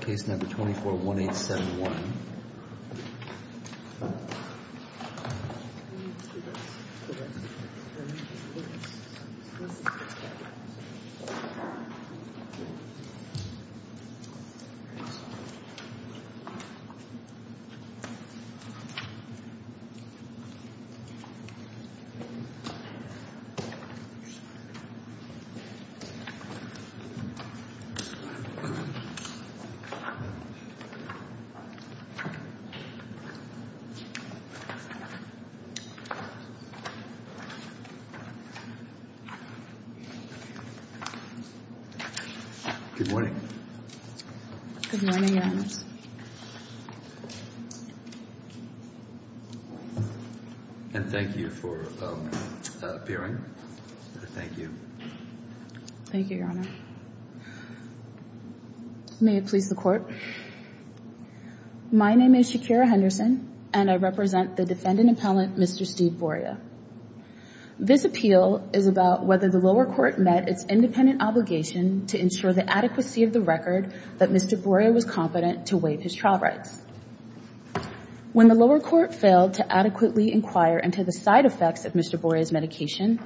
case number 241871. Good morning. Good morning, Your Honors. And thank you for appearing. Thank you. Thank you, Your Honor. May it please the Court. My name is Shakira Henderson, and I represent the defendant appellant, Mr. Steve Boria. This appeal is about whether the lower court met its independent obligation to ensure the adequacy of the record that Mr. Boria was competent to waive his trial rights. When the lower court failed to adequately inquire into the side effects of Mr. Boria's medication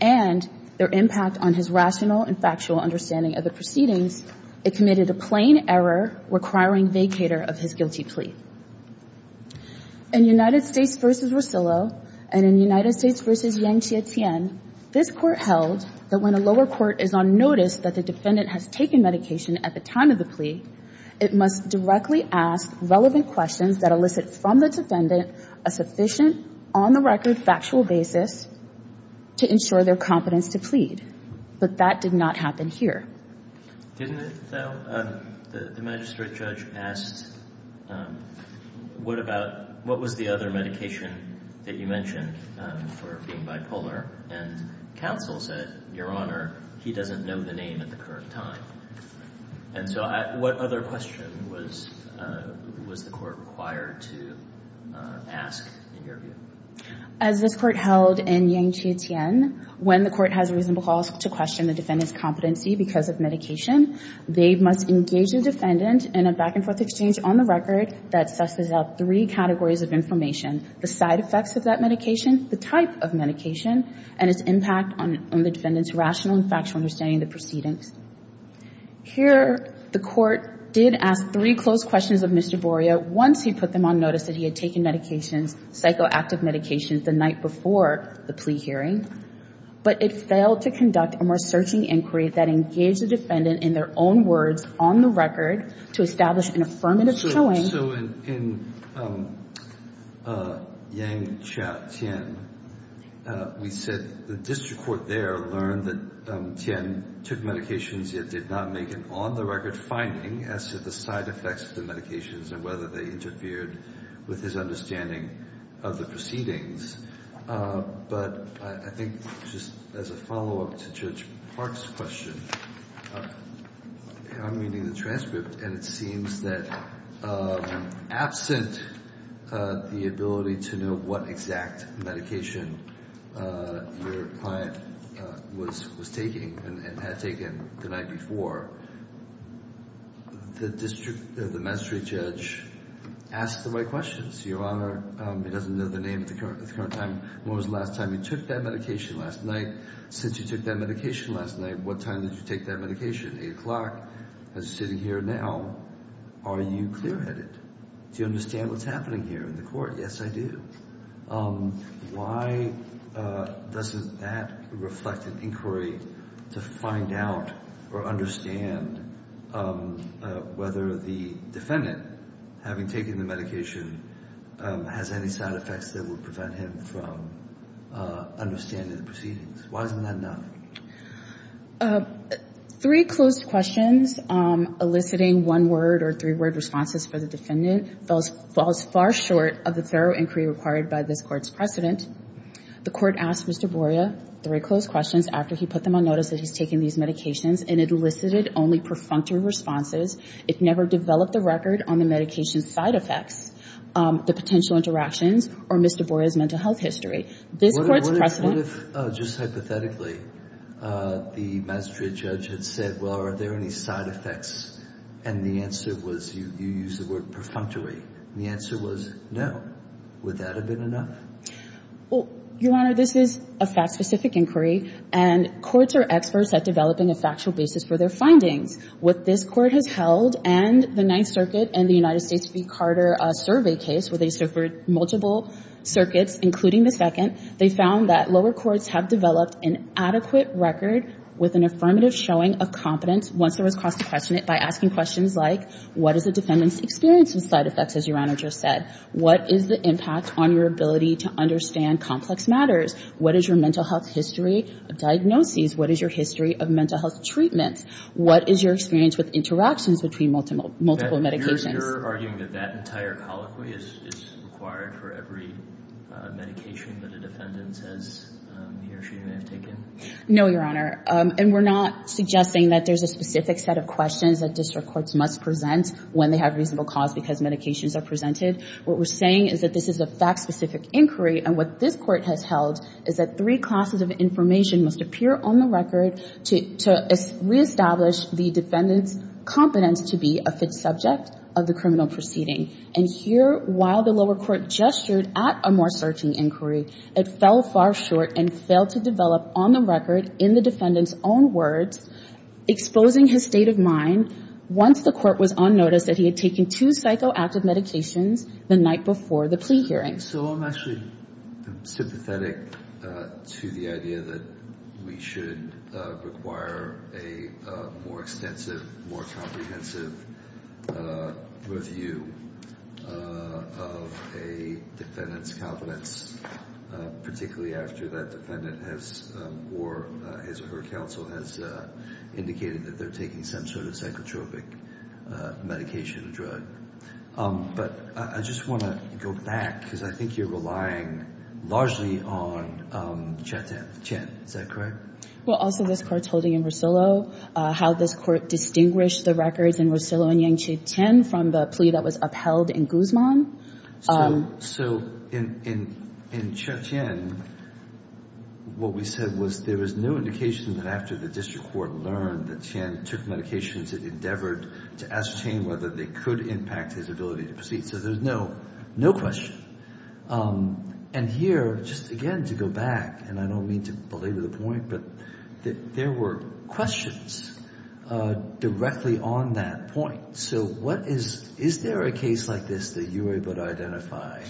and their impact on his rational and factual understanding of the proceedings, it committed a plain error requiring vacator of his guilty plea. In United States v. Rosillo and in United States v. Yang Jie-Tien, this Court held that when a lower court is on notice that the defendant has taken medication at the time of the plea, it must directly ask relevant questions that elicit from the defendant a sufficient on-the-record factual basis to ensure their competence to plead. But that did not happen here. Didn't it, though? The magistrate judge asked, what was the other medication that you mentioned for being bipolar? And counsel said, Your Honor, he doesn't know the name at the current time. And so what other question was the Court required to ask in your view? As this Court held in Yang Jie-Tien, when the Court has reasonable cause to question the defendant's competency because of medication, they must engage the defendant in a back-and-forth exchange on the record that susses out three categories of information, the side effects of that medication, the type of medication, and its impact on the defendant's rational and factual understanding of the proceedings. Here, the Court did ask three closed questions of Mr. Boria once he put them on notice that he had taken medications, psychoactive medications, the night before the plea hearing. But it failed to conduct a more searching inquiry that engaged the defendant in their own words on the record to establish an affirmative showing. So in Yang Jie-Tien, we said the district court there learned that Tien took medications yet did not make an on-the-record finding as to the side effects of the medications and whether they interfered with his understanding of the proceedings. But I think just as a follow-up to Judge Park's question, I'm reading the transcript, and it seems that absent the ability to know what exact medication your client was taking and had taken the night before, the district, the med street judge asks the right questions. Your Honor, he doesn't know the name at the current time. When was the last time you took that medication last night? Since you took that medication last night, what time did you take that medication? Eight o'clock. As you're sitting here now, are you clear-headed? Do you understand what's happening here in the court? Yes, I do. Why doesn't that reflect an inquiry to find out or understand whether the defendant, having taken the medication, has any side effects that would prevent him from understanding the proceedings? Why isn't that enough? Three closed questions eliciting one-word or three-word responses for the defendant falls far short of the thorough inquiry required by this Court's precedent. The Court asked Mr. Boria three closed questions after he put them on notice that he's taken these medications and elicited only perfunctory responses. It never developed a record on the medication's side effects, the potential interactions, or Mr. Boria's mental health history. What if, just hypothetically, the magistrate judge had said, well, are there any side effects? And the answer was, you used the word perfunctory, and the answer was no. Would that have been enough? Your Honor, this is a fact-specific inquiry, and courts are experts at developing a factual basis for their findings. What this Court has held and the Ninth Circuit and the United States v. Carter survey case, where they suffered multiple circuits, including the second, they found that lower courts have developed an adequate record with an affirmative showing of competence once there was cross-questioning it by asking questions like, what does the defendant's experience with side effects, as your Honor just said? What is the impact on your ability to understand complex matters? What is your mental health history of diagnoses? What is your history of mental health treatments? What is your experience with interactions between multiple medications? So you're arguing that that entire colloquy is required for every medication that a defendant says he or she may have taken? No, your Honor. And we're not suggesting that there's a specific set of questions that district courts must present when they have reasonable cause because medications are presented. What we're saying is that this is a fact-specific inquiry, and what this Court has held is that three classes of information must appear on the record to reestablish the defendant's competence to be a fit subject of the criminal proceeding. And here, while the lower court gestured at a more searching inquiry, it fell far short and failed to develop on the record in the defendant's own words, exposing his state of mind once the court was on notice that he had taken two psychoactive medications the night before the plea hearing. I think so. I'm actually sympathetic to the idea that we should require a more extensive, more comprehensive review of a defendant's competence, particularly after that defendant has, or her counsel has, indicated that they're taking some sort of psychotropic medication or drug. But I just want to go back because I think you're relying largely on Chia Tien. Is that correct? Well, also this Court's holding in Rosillo, how this Court distinguished the records in Rosillo and Yang Chieh Tien from the plea that was upheld in Guzman. So in Chia Tien, what we said was there was no indication that after the district court learned that Tien took medications, it endeavored to ascertain whether they could impact his ability to proceed. So there's no question. And here, just again to go back, and I don't mean to belabor the point, but there were questions directly on that point. So is there a case like this that you were able to identify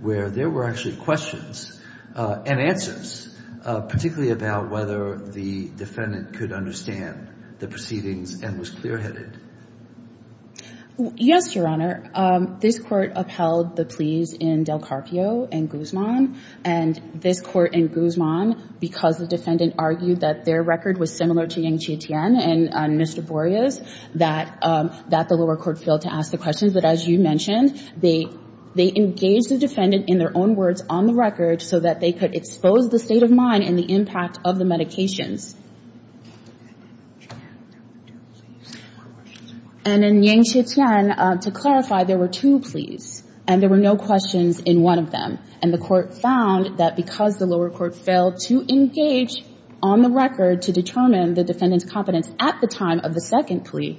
where there were actually questions and answers, particularly about whether the defendant could understand the proceedings and was clearheaded? Yes, Your Honor. This Court upheld the pleas in Del Carpio and Guzman. And this Court in Guzman, because the defendant argued that their record was similar to Yang Chieh Tien and Mr. Borges, that the lower court failed to ask the questions. But as you mentioned, they engaged the defendant in their own words on the record so that they could expose the state of mind and the impact of the medications. And in Yang Chieh Tien, to clarify, there were two pleas, and there were no questions in one of them. And the court found that because the lower court failed to engage on the record to determine the defendant's competence at the time of the second plea.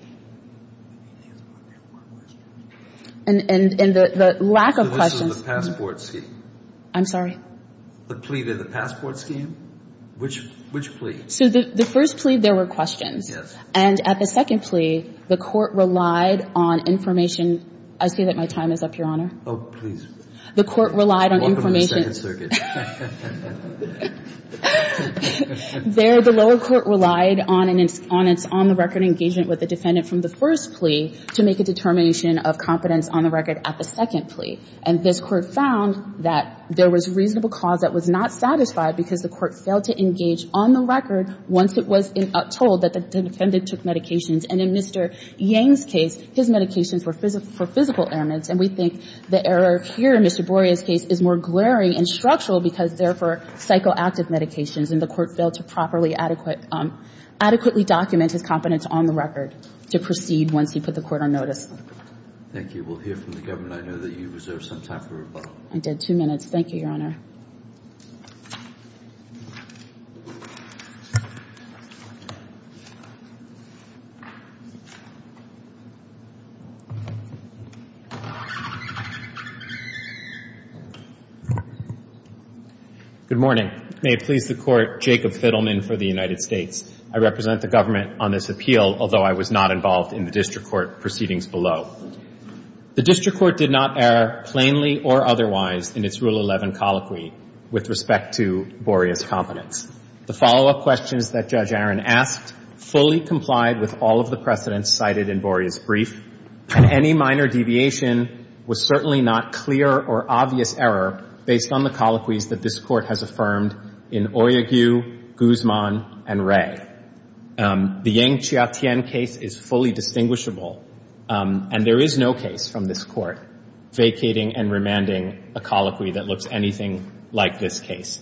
And the lack of questions. So which is the passport scheme? I'm sorry? The plea to the passport scheme? Which plea? So the first plea, there were questions. Yes. And at the second plea, the court relied on information. I see that my time is up, Your Honor. Oh, please. The court relied on information. Welcome to the Second Circuit. There, the lower court relied on its on-the-record engagement with the defendant from the first plea to make a determination of competence on the record at the second plea. And this court found that there was reasonable cause that was not satisfied because the court failed to engage on the record once it was told that the defendant took medications. And in Mr. Yang's case, his medications were for physical ailments. And we think the error here in Mr. Boria's case is more glaring and structural because they're for psychoactive medications. And the court failed to properly adequately document his competence on the record to proceed once he put the court on notice. Thank you. We'll hear from the government. I know that you reserved some time for rebuttal. I did. Two minutes. Thank you, Your Honor. Good morning. May it please the Court, Jacob Fiddleman for the United States. I represent the government on this appeal, although I was not involved in the district court proceedings below. The district court did not err plainly or otherwise in its Rule 11 colloquy. With respect to Boria's competence. The follow-up questions that Judge Aaron asked fully complied with all of the precedents cited in Boria's brief. And any minor deviation was certainly not clear or obvious error based on the colloquies that this Court has affirmed in Oyegu, Guzman, and Ray. The Yang-Chiatien case is fully distinguishable. And there is no case from this Court vacating and remanding a colloquy that looks anything like this case.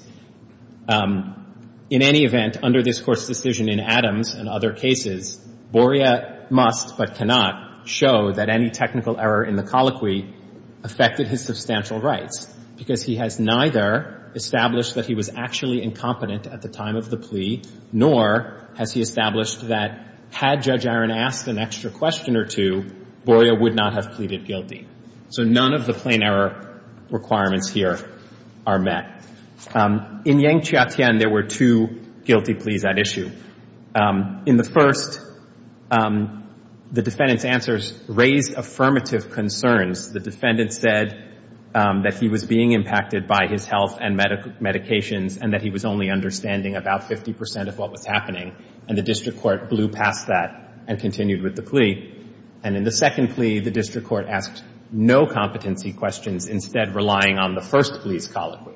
In any event, under this Court's decision in Adams and other cases, Boria must but cannot show that any technical error in the colloquy affected his substantial rights. Because he has neither established that he was actually incompetent at the time of the plea, nor has he established that had Judge Aaron asked an extra question or two, Boria would not have pleaded guilty. So none of the plain error requirements here are met. In Yang-Chiatien, there were two guilty pleas at issue. In the first, the defendant's answers raised affirmative concerns. The defendant said that he was being impacted by his health and medications and that he was only understanding about 50 percent of what was happening. And the district court blew past that and continued with the plea. And in the second plea, the district court asked no competency questions, instead relying on the first plea's colloquy.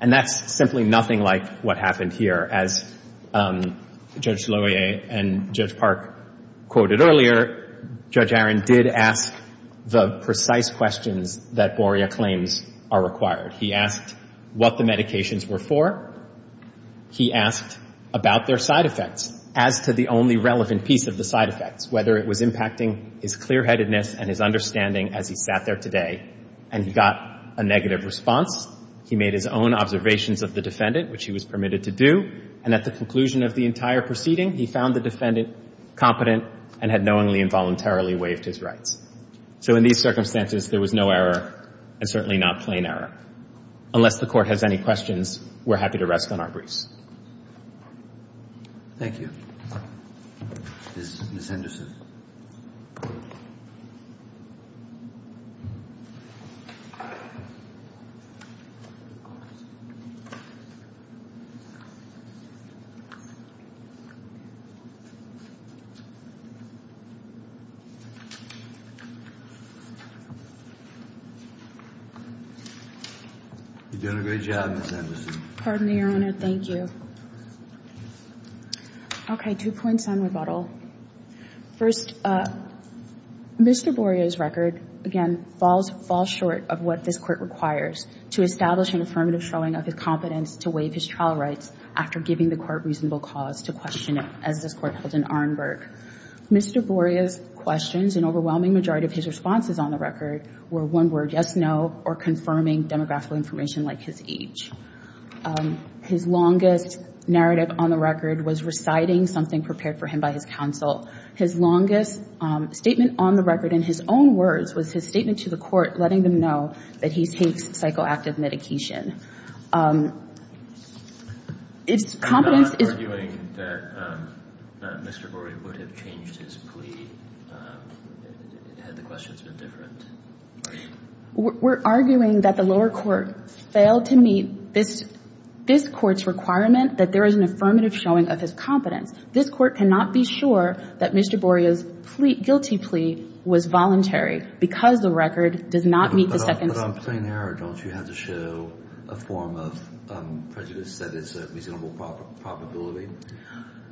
And that's simply nothing like what happened here. As Judge Loyer and Judge Park quoted earlier, Judge Aaron did ask the precise questions that Boria claims are required. He asked what the medications were for. He asked about their side effects, as to the only relevant piece of the side effects, whether it was impacting his clear-headedness and his understanding as he sat there today. And he got a negative response. He made his own observations of the defendant, which he was permitted to do. And at the conclusion of the entire proceeding, he found the defendant competent and had knowingly and voluntarily waived his rights. So in these circumstances, there was no error and certainly not plain error. Unless the Court has any questions, we're happy to rest on our briefs. Thank you. Ms. Henderson. You're doing a great job, Ms. Henderson. Pardon me, Your Honor. Thank you. Okay, two points on rebuttal. First, Mr. Boria's record, again, falls short of what this Court requires, to establish an affirmative showing of his competence to waive his trial rights after giving the Court reasonable cause to question it, as this Court held in Arnberg. Mr. Boria's questions, an overwhelming majority of his responses on the record, were one word, yes, no, or confirming demographical information like his age. His longest narrative on the record was reciting something prepared for him by his counsel. His longest statement on the record, in his own words, was his statement to the Court letting them know that he takes psychoactive medication. It's competence is... I'm not arguing that Mr. Boria would have changed his plea had the questions been different. We're arguing that the lower court failed to meet this Court's requirement that there is an affirmative showing of his competence. This Court cannot be sure that Mr. Boria's guilty plea was voluntary because the record does not meet the second... But I'm saying, Hara, don't you have to show a form of prejudice that is a reasonable probability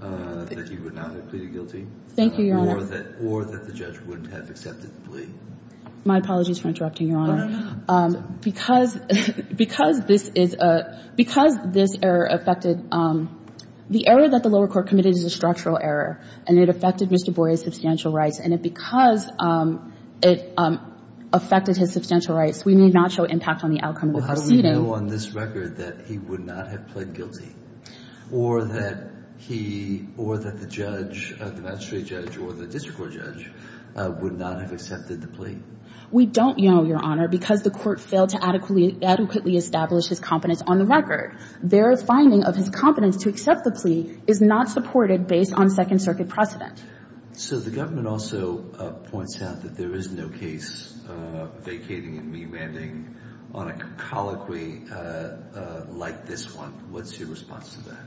that he would not have pleaded guilty? Thank you, Your Honor. Or that the judge wouldn't have accepted the plea? My apologies for interrupting, Your Honor. Because this is a... Because this error affected... The error that the lower court committed is a structural error, and it affected Mr. Boria's substantial rights. And because it affected his substantial rights, we may not show impact on the outcome of the proceeding. Well, how do we know on this record that he would not have pled guilty? Or that he... Or that the judge, the magistrate judge or the district court judge, would not have accepted the plea? We don't know, Your Honor, because the Court failed to adequately establish his competence on the record. Their finding of his competence to accept the plea is not supported based on Second Circuit precedent. So the government also points out that there is no case vacating and meandering on a colloquy like this one. What's your response to that?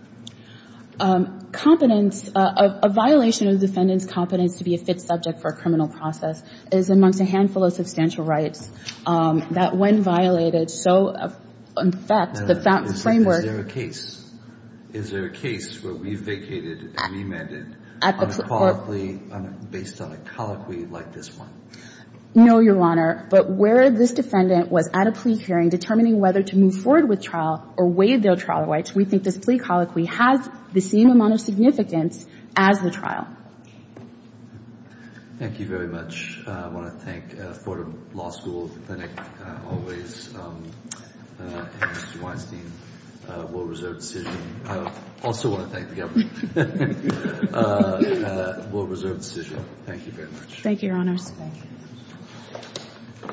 Competence... A violation of the defendant's competence to be a fit subject for a criminal process is amongst a handful of substantial rights that when violated so... In fact, the framework... Is there a case where we vacated and meandered on a colloquy based on a colloquy like this one? No, Your Honor. But where this defendant was at a plea hearing determining whether to move forward with trial or waive their trial rights, we think this plea colloquy has the same amount of significance as the trial. Thank you very much. I want to thank Fordham Law School, the clinic, always, and Mr. Weinstein, World Reserve Decision. I also want to thank the government. World Reserve Decision, thank you very much. Thank you, Your Honors. Thank you.